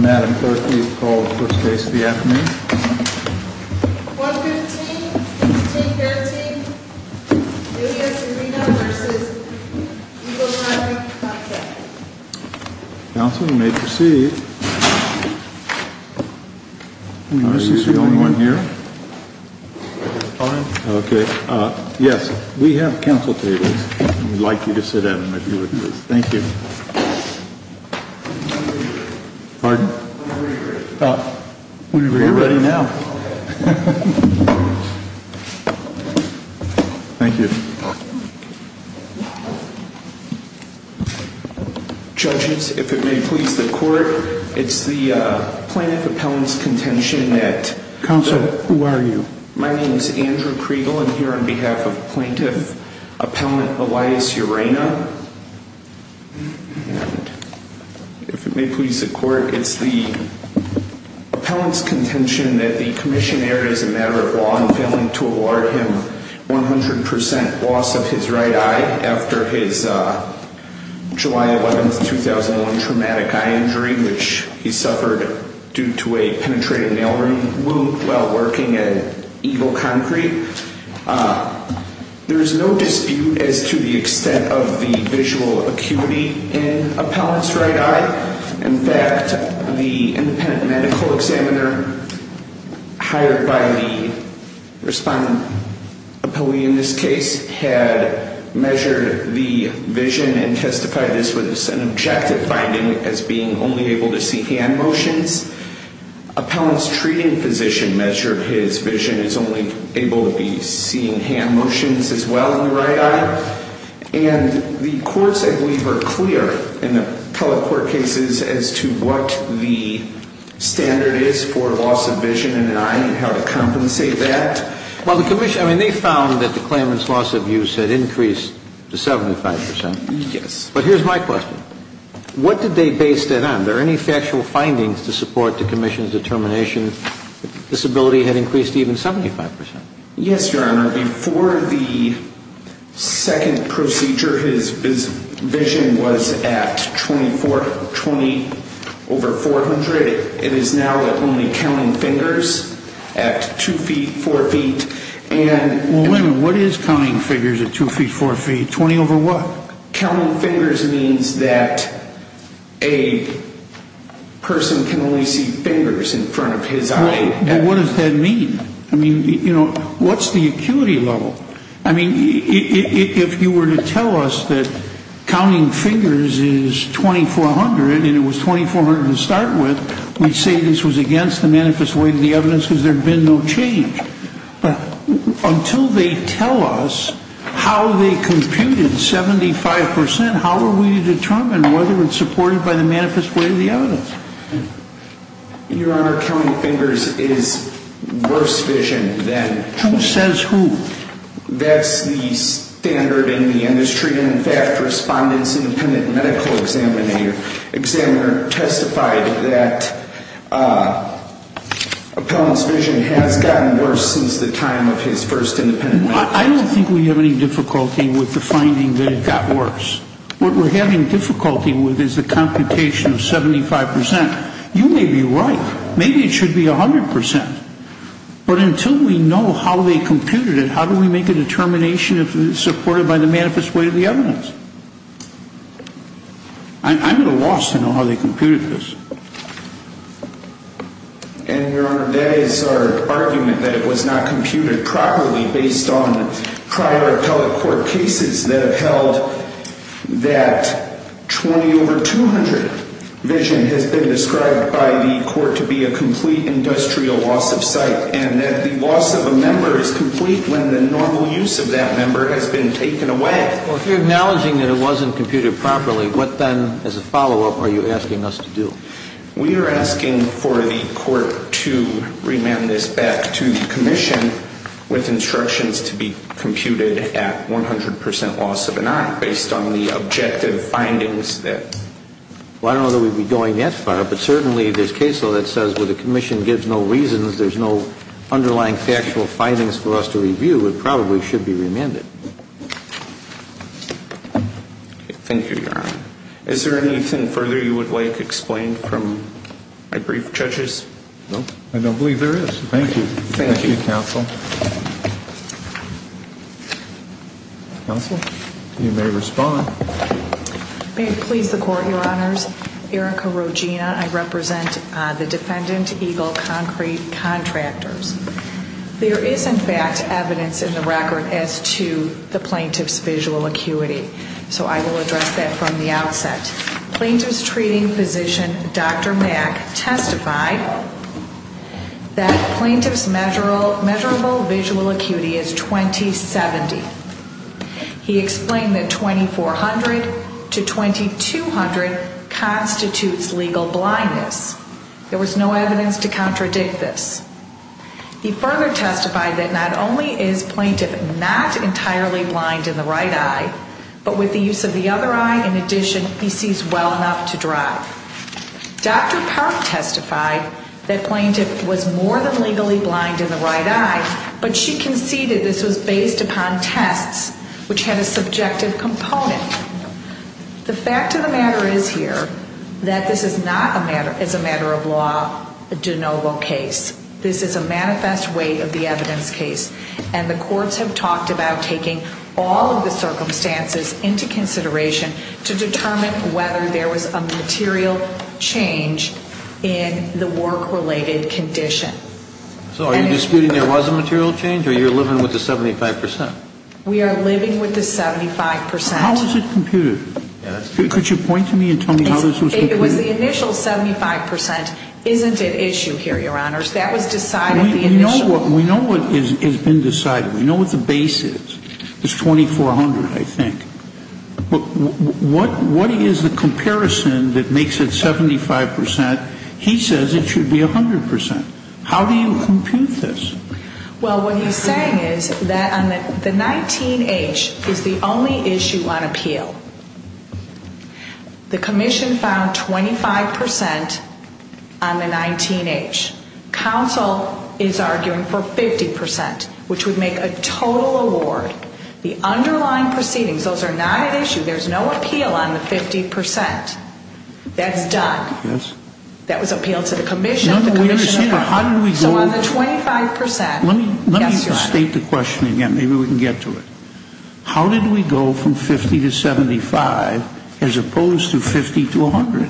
Madam Clerk, please call the first case of the afternoon. 115-1513, New Hampshire Urena v. Ecologic Contract Counsel, you may proceed. I'm going to use the only one here. Okay. Yes, we have counsel tables. We'd like you to sit down and review this. Thank you. Pardon? Whenever you're ready. Whenever you're ready. We're ready now. Thank you. Judges, if it may please the court, it's the Plaintiff Appellant's Contention Act. Counsel, who are you? My name is Andrew Kriegel. I'm here on behalf of Plaintiff Appellant Elias Urena. If it may please the court, it's the Appellant's Contention that the Commissioner is a matter of law and failing to award him 100% loss of his right eye after his July 11, 2001 traumatic eye injury, which he suffered due to a penetrated nail ring wound while working at Eagle Concrete. There is no dispute as to the extent of the visual acuity in Appellant's right eye. In fact, the independent medical examiner hired by the respondent, in this case, had measured the vision and testified this was an objective finding as being only able to see hand motions. Appellant's treating physician measured his vision as only able to be seeing hand motions as well in the right eye. And the courts, I believe, are clear in the appellate court cases as to what the standard is for loss of vision in an eye and how to compensate that. Well, the Commission, I mean, they found that the claimant's loss of use had increased to 75%. Yes. But here's my question. What did they base that on? Are there any factual findings to support the Commission's determination that disability had increased to even 75%? Yes, Your Honor. Before the second procedure, his vision was at 20 over 400. It is now at only counting fingers at 2 feet, 4 feet. Well, what is counting figures at 2 feet, 4 feet? 20 over what? Counting fingers means that a person can only see fingers in front of his eye. But what does that mean? I mean, you know, what's the acuity level? I mean, if you were to tell us that counting fingers is 2,400 and it was 2,400 to start with, we'd say this was against the manifest way of the evidence because there had been no change. But until they tell us how they computed 75%, how are we to determine whether it's supported by the manifest way of the evidence? Your Honor, counting fingers is worse vision than... Who says who? That's the standard in the industry. In fact, Respondent's Independent Medical Examiner testified that Appellant's vision has gotten worse since the time of his first independent medical exam. I don't think we have any difficulty with the finding that it got worse. What we're having difficulty with is the computation of 75%. You may be right. Maybe it should be 100%. But until we know how they computed it, how do we make a determination if it's supported by the manifest way of the evidence? I'm at a loss to know how they computed this. And, Your Honor, that is our argument that it was not computed properly based on prior appellate court cases that have held that 20 over 200 vision has been described by the court to be a complete industrial loss of sight and that the loss of a member is complete when the normal use of that member has been taken away. Well, if you're acknowledging that it wasn't computed properly, what then as a follow-up are you asking us to do? We are asking for the court to remand this back to the commission with instructions to be computed at 100% loss of an eye based on the objective findings that... Well, I don't know that we'd be going that far, but certainly there's case law that says when the commission gives no reasons, there's no underlying factual findings for us to review, it probably should be remanded. Thank you, Your Honor. Is there anything further you would like explained from my brief, judges? No, I don't believe there is. Thank you. Thank you, counsel. Counsel, you may respond. May it please the court, Your Honors, Erica Rogina, I represent the Defendant Eagle Concrete Contractors. There is, in fact, evidence in the record as to the plaintiff's visual acuity, so I will address that from the outset. Plaintiff's treating physician, Dr. Mack, testified that plaintiff's measurable visual acuity is 20-70. He explained that 2400 to 2200 constitutes legal blindness. There was no evidence to contradict this. He further testified that not only is plaintiff not entirely blind in the right eye, but with the use of the other eye, in addition, he sees well enough to drive. Dr. Park testified that plaintiff was more than legally blind in the right eye, but she conceded this was based upon tests, which had a subjective component. The fact of the matter is here that this is not, as a matter of law, a de novo case. This is a manifest way of the evidence case, and the courts have talked about taking all of the circumstances into consideration to determine whether there was a material change in the work-related condition. So are you disputing there was a material change, or you're living with the 75 percent? We are living with the 75 percent. How is it computed? Could you point to me and tell me how this was computed? It was the initial 75 percent. Isn't at issue here, Your Honors. That was decided at the initial. We know what has been decided. We know what the base is. It's 2400, I think. But what is the comparison that makes it 75 percent? He says it should be 100 percent. How do you compute this? Well, what he's saying is that the 19-H is the only issue on appeal. The commission found 25 percent on the 19-H. Counsel is arguing for 50 percent, which would make a total award. The underlying proceedings, those are not at issue. There's no appeal on the 50 percent. That's done. That was appealed to the commission. So on the 25 percent. Let me state the question again. Maybe we can get to it. How did we go from 50 to 75 as opposed to 50 to 100?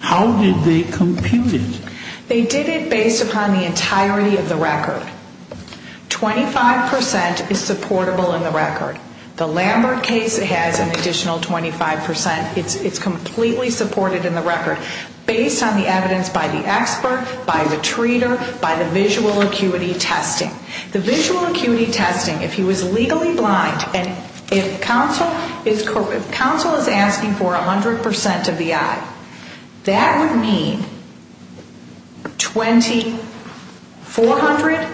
How did they compute it? They did it based upon the entirety of the record. 25 percent is supportable in the record. The Lambert case has an additional 25 percent. It's completely supported in the record. Based on the evidence by the expert, by the treater, by the visual acuity testing. The visual acuity testing, if he was legally blind and if counsel is asking for 100 percent of the eye, that would mean 2400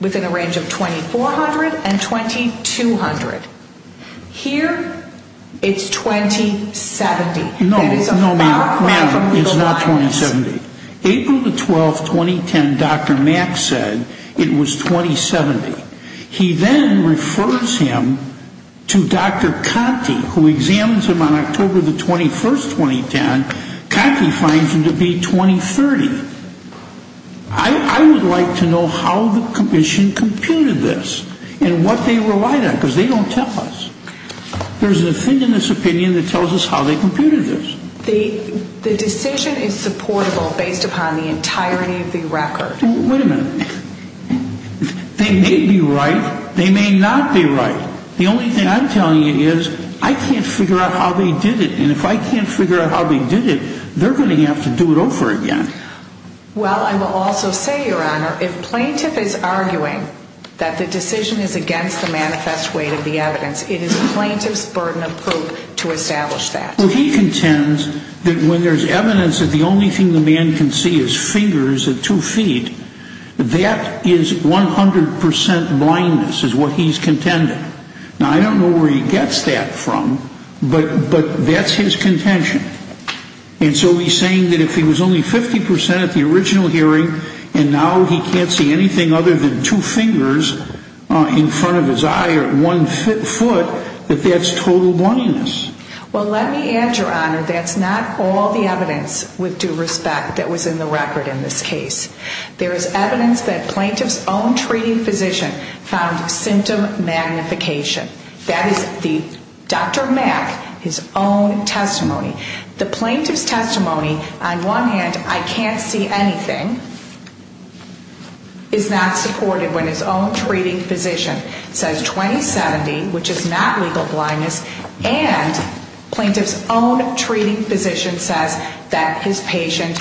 within a range of 2400 and 2200. Here, it's 2070. No, no, ma'am, it's not 2070. April the 12th, 2010, Dr. Mack said it was 2070. He then refers him to Dr. Conti, who examines him on October the 21st, 2010. Conti finds him to be 2030. I would like to know how the commission computed this and what they relied on because they don't tell us. There's a thing in this opinion that tells us how they computed this. The decision is supportable based upon the entirety of the record. Wait a minute. They may be right. They may not be right. The only thing I'm telling you is I can't figure out how they did it. And if I can't figure out how they did it, they're going to have to do it over again. Well, I will also say, Your Honor, if plaintiff is arguing that the decision is against the manifest weight of the evidence, it is plaintiff's burden of proof to establish that. He contends that when there's evidence that the only thing the man can see is fingers at two feet, that is 100 percent blindness is what he's contending. Now, I don't know where he gets that from, but that's his contention. And so he's saying that if he was only 50 percent at the original hearing and now he can't see anything other than two fingers in front of his eye or one foot, that that's total blindness. Well, let me add, Your Honor, that's not all the evidence with due respect that was in the record in this case. There is evidence that plaintiff's own treating physician found symptom magnification. That is Dr. Mack, his own testimony. The plaintiff's testimony, on one hand, I can't see anything, is not supported when his own treating physician says 20-70, which is not legal blindness, and plaintiff's own treating physician says that his patient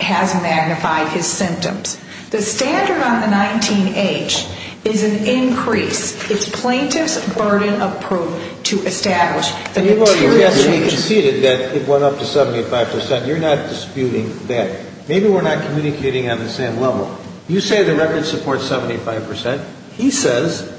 has magnified his symptoms. The standard on the 19-H is an increase. It's plaintiff's burden of proof to establish the material change. Your Honor, he conceded that it went up to 75 percent. You're not disputing that. Maybe we're not communicating on the same level. You say the record supports 75 percent. He says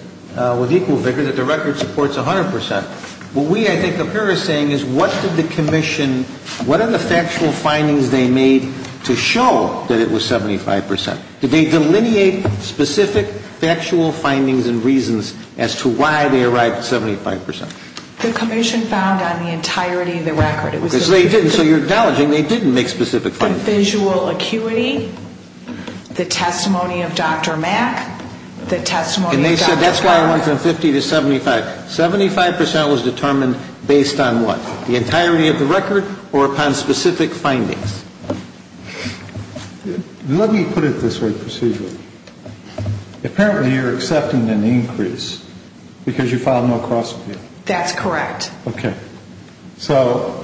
with equal vigor that the record supports 100 percent. What we, I think, up here are saying is what did the commission, what are the factual findings they made to show that it was 75 percent? Did they delineate specific factual findings and reasons as to why they arrived at 75 percent? The commission found on the entirety of the record. So you're acknowledging they didn't make specific findings. The visual acuity, the testimony of Dr. Mack, the testimony of Dr. Powell. And they said that's why it went from 50 to 75. 75 percent was determined based on what? The entirety of the record or upon specific findings. Let me put it this way procedurally. Apparently you're accepting an increase because you filed no cross review. That's correct. Okay. So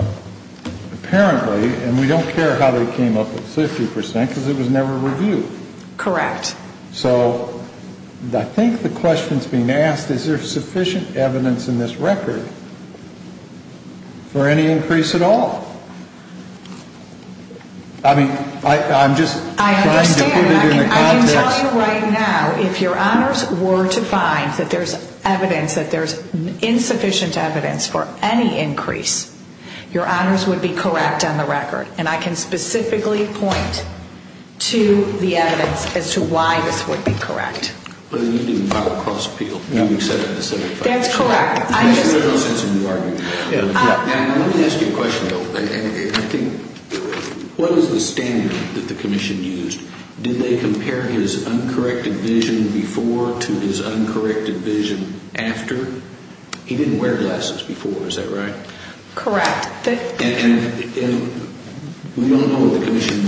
apparently, and we don't care how they came up with 50 percent because it was never reviewed. Correct. So I think the question that's being asked is there sufficient evidence in this record for any increase at all? I mean, I'm just trying to put it in the context. I understand. I can tell you right now if your honors were to find that there's evidence, that there's insufficient evidence for any increase, your honors would be correct on the record. And I can specifically point to the evidence as to why this would be correct. You didn't file a cross appeal. That's correct. There's no sense in you arguing that. Let me ask you a question, though. I think what is the standard that the commission used? Did they compare his uncorrected vision before to his uncorrected vision after? He didn't wear glasses before. Is that right? Correct. And we don't know what the commission,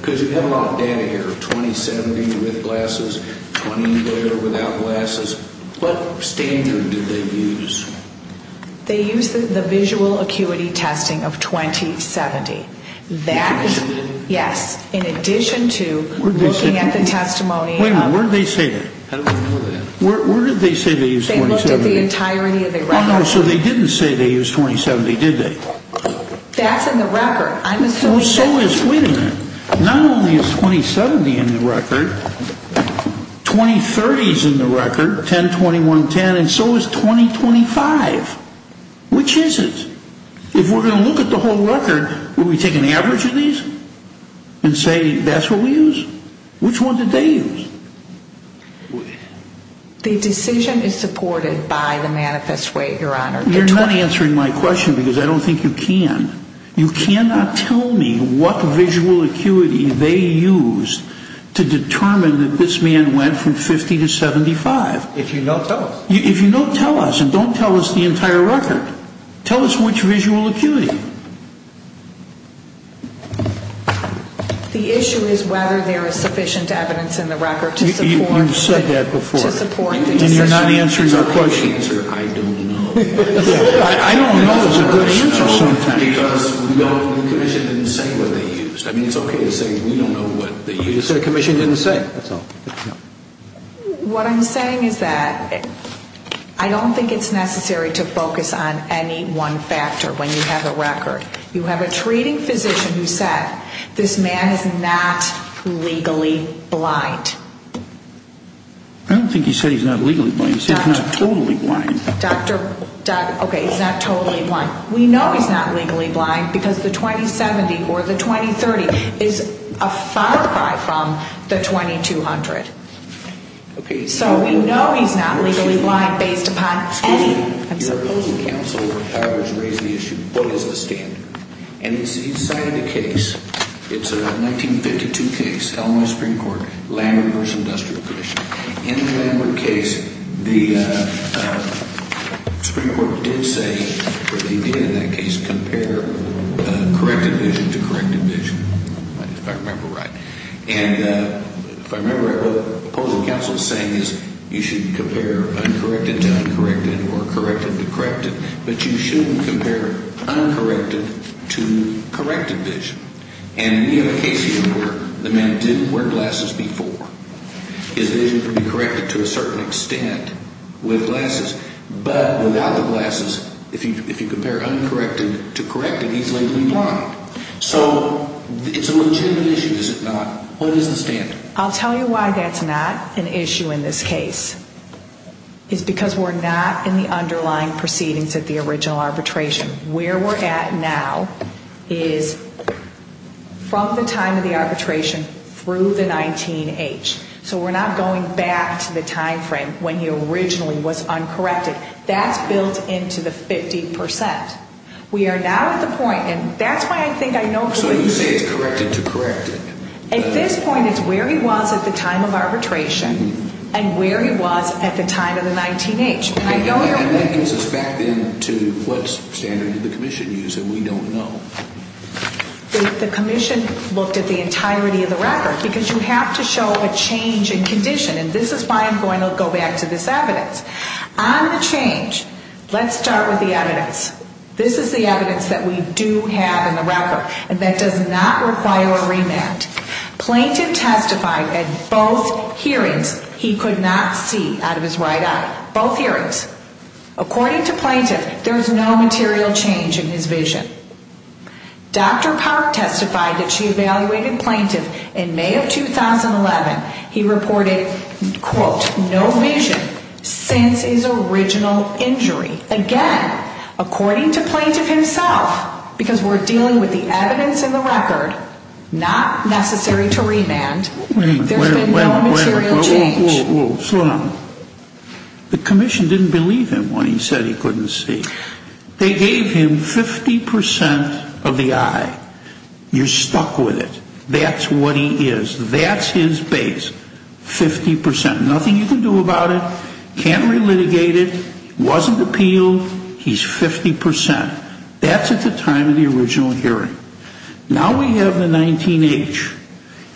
because you have a lot of data here, 2070 with glasses, 20 later without glasses. What standard did they use? They used the visual acuity testing of 2070. That is, yes, in addition to looking at the testimony. Wait a minute, where did they say that? How do we know that? Where did they say they used 2070? They looked at the entirety of the record. Oh, no, so they didn't say they used 2070, did they? That's in the record. Well, so is, wait a minute, not only is 2070 in the record, 2030 is in the record, 10, 21, 10, and so is 2025. Which is it? If we're going to look at the whole record, would we take an average of these and say that's what we use? Which one did they use? The decision is supported by the manifest way, Your Honor. You're not answering my question because I don't think you can. You cannot tell me what visual acuity they used to determine that this man went from 50 to 75. If you know, tell us. If you know, tell us, and don't tell us the entire record. Tell us which visual acuity. The issue is whether there is sufficient evidence in the record to support the decision. You've said that before, and you're not answering my question. I don't know. I don't know is a good answer sometimes. Because we don't, the commission didn't say what they used. I mean, it's okay to say we don't know what they used. The commission didn't say. That's all. What I'm saying is that I don't think it's necessary to focus on any one factor when you have a record. You have a treating physician who said this man is not legally blind. I don't think he said he's not legally blind. He said he's not totally blind. Okay, he's not totally blind. We know he's not legally blind because the 2070 or the 2030 is a far cry from the 2200. So we know he's not legally blind based upon anything. Your opposing counsel has raised the issue, what is the standard? And you cited a case. It's a 1952 case, Illinois Supreme Court, Landward v. Industrial Commission. In the Landward case, the Supreme Court did say, or they did in that case, compare corrected vision to corrected vision. If I remember right. And if I remember right, what the opposing counsel is saying is you should compare uncorrected to uncorrected or corrected to corrected, but you shouldn't compare uncorrected to corrected vision. And we have a case here where the man didn't wear glasses before. His vision can be corrected to a certain extent with glasses. But without the glasses, if you compare uncorrected to corrected, he's legally blind. So it's a legitimate issue, is it not? What is the standard? I'll tell you why that's not an issue in this case. It's because we're not in the underlying proceedings of the original arbitration. Where we're at now is from the time of the arbitration through the 19-H. So we're not going back to the time frame when he originally was uncorrected. That's built into the 50%. We are now at the point, and that's why I think I know. So you say it's corrected to corrected. At this point, it's where he was at the time of arbitration and where he was at the time of the 19-H. And that brings us back then to what standard did the commission use that we don't know? The commission looked at the entirety of the record because you have to show a change in condition, and this is why I'm going to go back to this evidence. On the change, let's start with the evidence. This is the evidence that we do have in the record, and that does not require a remand. Plaintiff testified at both hearings he could not see out of his right eye. Both hearings. According to plaintiff, there's no material change in his vision. Dr. Park testified that she evaluated plaintiff in May of 2011. He reported, quote, no vision since his original injury. Again, according to plaintiff himself, because we're dealing with the evidence in the record, not necessary to remand, there's been no material change. Wait a minute. Slow down. The commission didn't believe him when he said he couldn't see. They gave him 50% of the eye. You're stuck with it. That's what he is. That's his base, 50%. Nothing you can do about it. Can't relitigate it. Wasn't appealed. He's 50%. That's at the time of the original hearing. Now we have the 19H,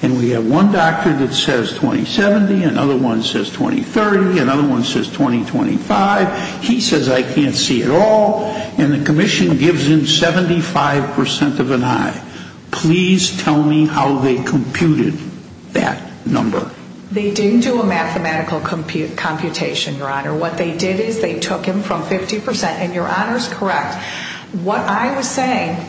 and we have one doctor that says 2070, another one says 2030, another one says 2025. He says I can't see at all, and the commission gives him 75% of an eye. Please tell me how they computed that number. They didn't do a mathematical computation, Your Honor. What they did is they took him from 50%, and Your Honor is correct. What I was saying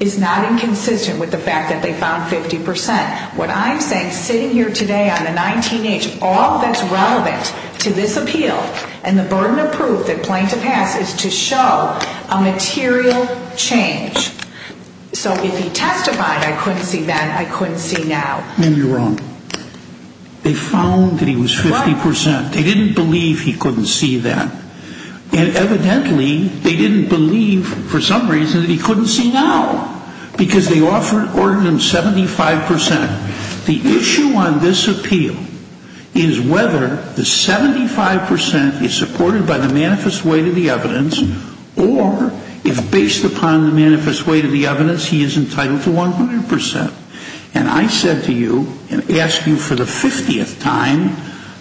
is not inconsistent with the fact that they found 50%. What I'm saying, sitting here today on the 19H, all that's relevant to this appeal and the burden of proof that plaintiff has is to show a material change. So if he testified I couldn't see that, I couldn't see now. No, you're wrong. They found that he was 50%. They didn't believe he couldn't see that. And evidently they didn't believe for some reason that he couldn't see now because they ordered him 75%. The issue on this appeal is whether the 75% is supported by the manifest weight of the evidence or if based upon the manifest weight of the evidence he is entitled to 100%. And I said to you and asked you for the 50th time,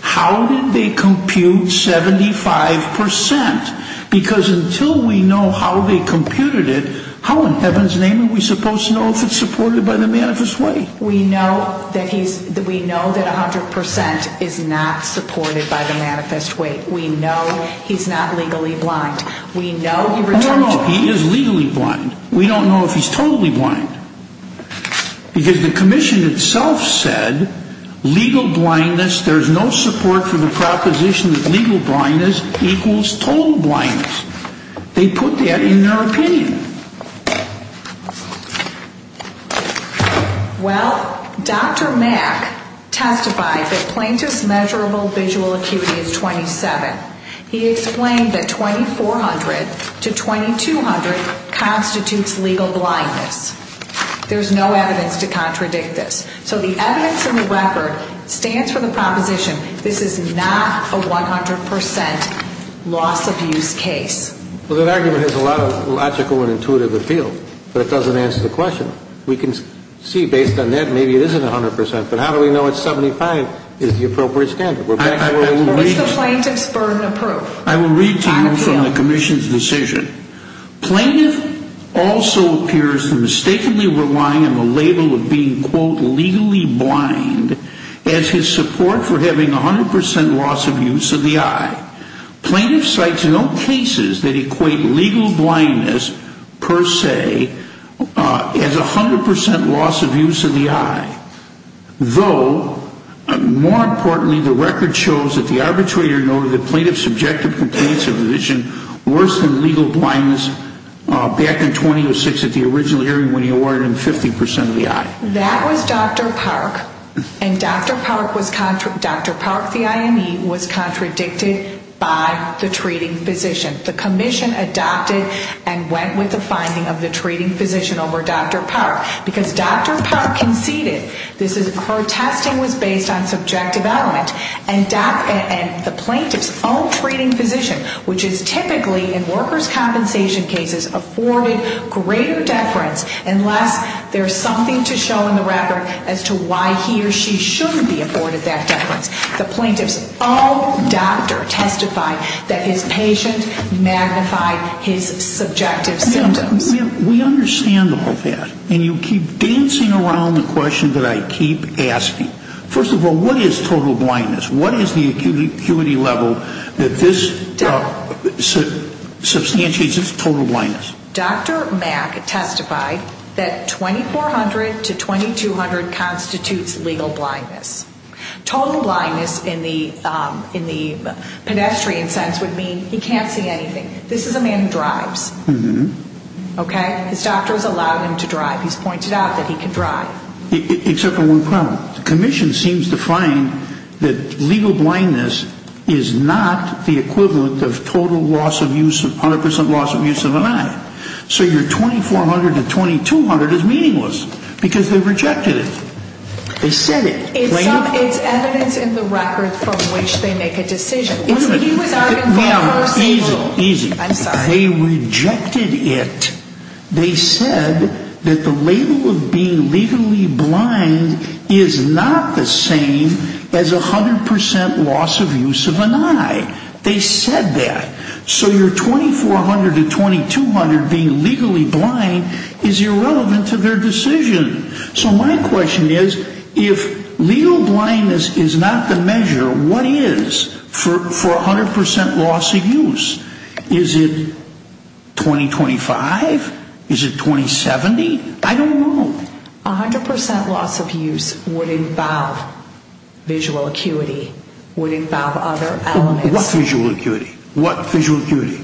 how did they compute 75%? Because until we know how they computed it, how in heaven's name are we supposed to know if it's supported by the manifest weight? We know that 100% is not supported by the manifest weight. We know he's not legally blind. We know he returns to... No, no, no, he is legally blind. We don't know if he's totally blind. Because the commission itself said legal blindness, there's no support for the proposition that legal blindness equals total blindness. They put that in their opinion. Well, Dr. Mack testified that plaintiff's measurable visual acuity is 27. He explained that 2400 to 2200 constitutes legal blindness. There's no evidence to contradict this. So the evidence in the record stands for the proposition this is not a 100% loss of use case. Well, that argument has a lot of logical and intuitive appeal, but it doesn't answer the question. We can see based on that maybe it isn't 100%, but how do we know it's 75 is the appropriate standard? I will read to you from the commission's decision. Plaintiff also appears to mistakenly rely on the label of being, quote, legally blind as his support for having 100% loss of use of the eye. Plaintiff cites no cases that equate legal blindness per se as 100% loss of use of the eye, though, more importantly, the record shows that the arbitrator noted that plaintiff's subjective complaints of vision worse than legal blindness back in 2006 at the original hearing when he awarded him 50% of the eye. That was Dr. Park, and Dr. Park, the IME, was contradicted by the treating physician. The commission adopted and went with the finding of the treating physician over Dr. Park because Dr. Park conceded her testing was based on subjective element, and the plaintiff's own treating physician, which is typically in workers' compensation cases, afforded greater deference unless there's something to show in the record as to why he or she shouldn't be afforded that deference. The plaintiff's own doctor testified that his patient magnified his subjective symptoms. We understand all that, and you keep dancing around the question that I keep asking. First of all, what is total blindness? What is the acuity level that this substantiates as total blindness? Dr. Mack testified that 2400 to 2200 constitutes legal blindness. Total blindness in the pedestrian sense would mean he can't see anything. This is a man who drives, okay? His doctor has allowed him to drive. He's pointed out that he can drive. Except for one problem. The commission seems to find that legal blindness is not the equivalent of total loss of use, 100% loss of use of an eye. So your 2400 to 2200 is meaningless because they rejected it. They said it. It's evidence in the record from which they make a decision. Easy, easy. They rejected it. They said that the label of being legally blind is not the same as 100% loss of use of an eye. They said that. So your 2400 to 2200 being legally blind is irrelevant to their decision. So my question is, if legal blindness is not the measure, what is for 100% loss of use? Is it 2025? Is it 2070? I don't know. 100% loss of use would involve visual acuity, would involve other elements. What visual acuity? What visual acuity?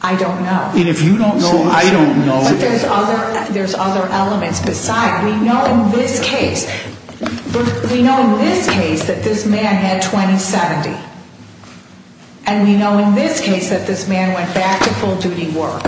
I don't know. And if you don't know, I don't know. But there's other elements beside. We know in this case that this man had 2070. And we know in this case that this man went back to full-duty work.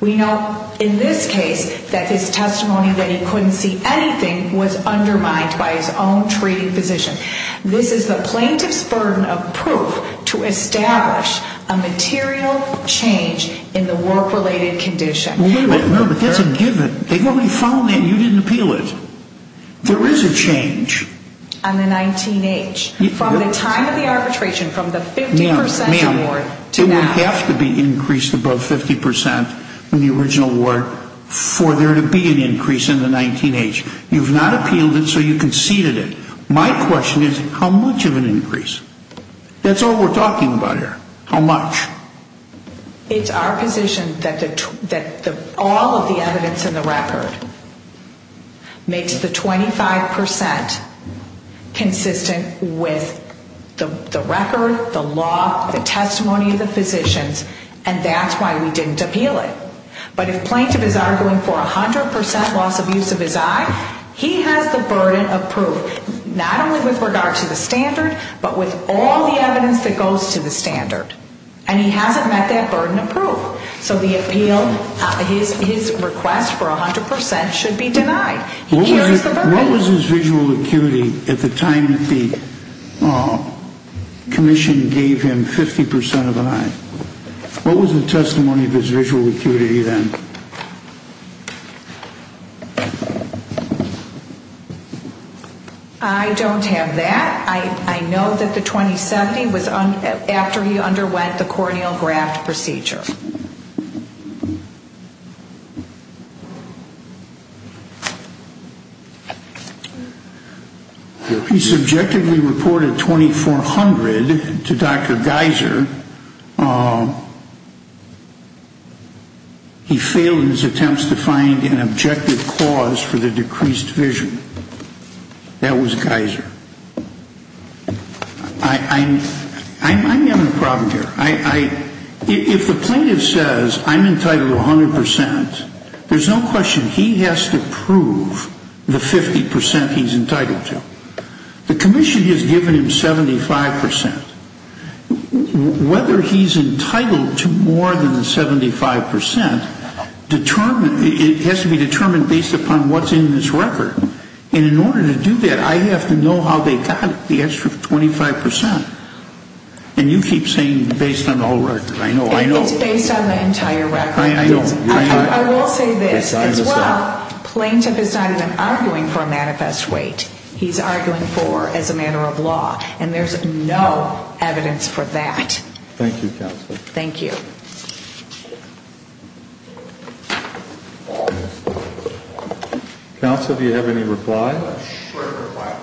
We know in this case that his testimony that he couldn't see anything was undermined by his own treating physician. This is the plaintiff's burden of proof to establish a material change in the work-related condition. No, but that's a given. They've already found that and you didn't appeal it. There is a change. On the 19-H. From the time of the arbitration, from the 50% award to now. It would have to be increased above 50% in the original award for there to be an increase in the 19-H. You've not appealed it, so you conceded it. My question is how much of an increase? That's all we're talking about here. How much? It's our position that all of the evidence in the record makes the 25% consistent with the record, the law, the testimony of the physicians. And that's why we didn't appeal it. But if the plaintiff is arguing for 100% loss of use of his eye, he has the burden of proof. Not only with regard to the standard, but with all the evidence that goes to the standard. And he hasn't met that burden of proof. So the appeal, his request for 100% should be denied. What was his visual acuity at the time that the commission gave him 50% of an eye? What was the testimony of his visual acuity then? I don't have that. I know that the 2070 was after he underwent the corneal graft procedure. He subjectively reported 2400 to Dr. Geyser. He failed in his attempts to find an objective cause for the decreased vision. That was Geyser. I'm having a problem here. If the plaintiff says I'm entitled to 100%, there's no question he has to prove the 50% he's entitled to. The commission has given him 75%. Whether he's entitled to more than the 75% has to be determined based upon what's in this record. And in order to do that, I have to know how they got the extra 25%. And you keep saying based on the whole record. It's based on the entire record. I will say this as well. Plaintiff is not even arguing for a manifest weight. He's arguing for as a matter of law. And there's no evidence for that. Thank you, Counsel. Thank you. Counsel, do you have any reply? I have a short reply.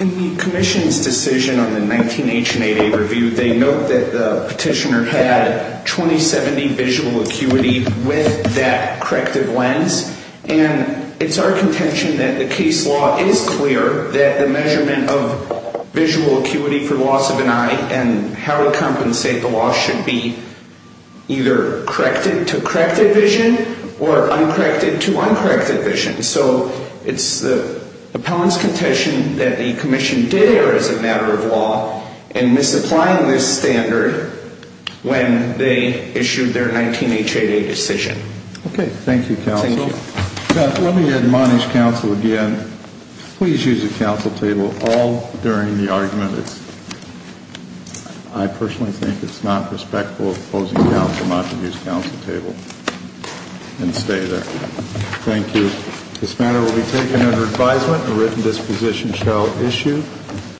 In the commission's decision on the 19-H and 8-A review, they note that the petitioner had 2070 visual acuity with that corrective lens. And it's our contention that the case law is clear that the measurement of visual acuity for loss of an eye and how we compensate the loss should be either corrected to corrected vision or uncorrected to uncorrected vision. So it's the appellant's contention that the commission did err as a matter of law in misapplying this standard when they issued their 19-H, 8-A decision. Okay. Thank you, Counsel. Thank you. Let me admonish Counsel again. Please use the Counsel table all during the argument. I personally think it's not respectful of opposing counsel not to use Counsel table and stay there. Thank you. This matter will be taken under advisement and written disposition shall issue.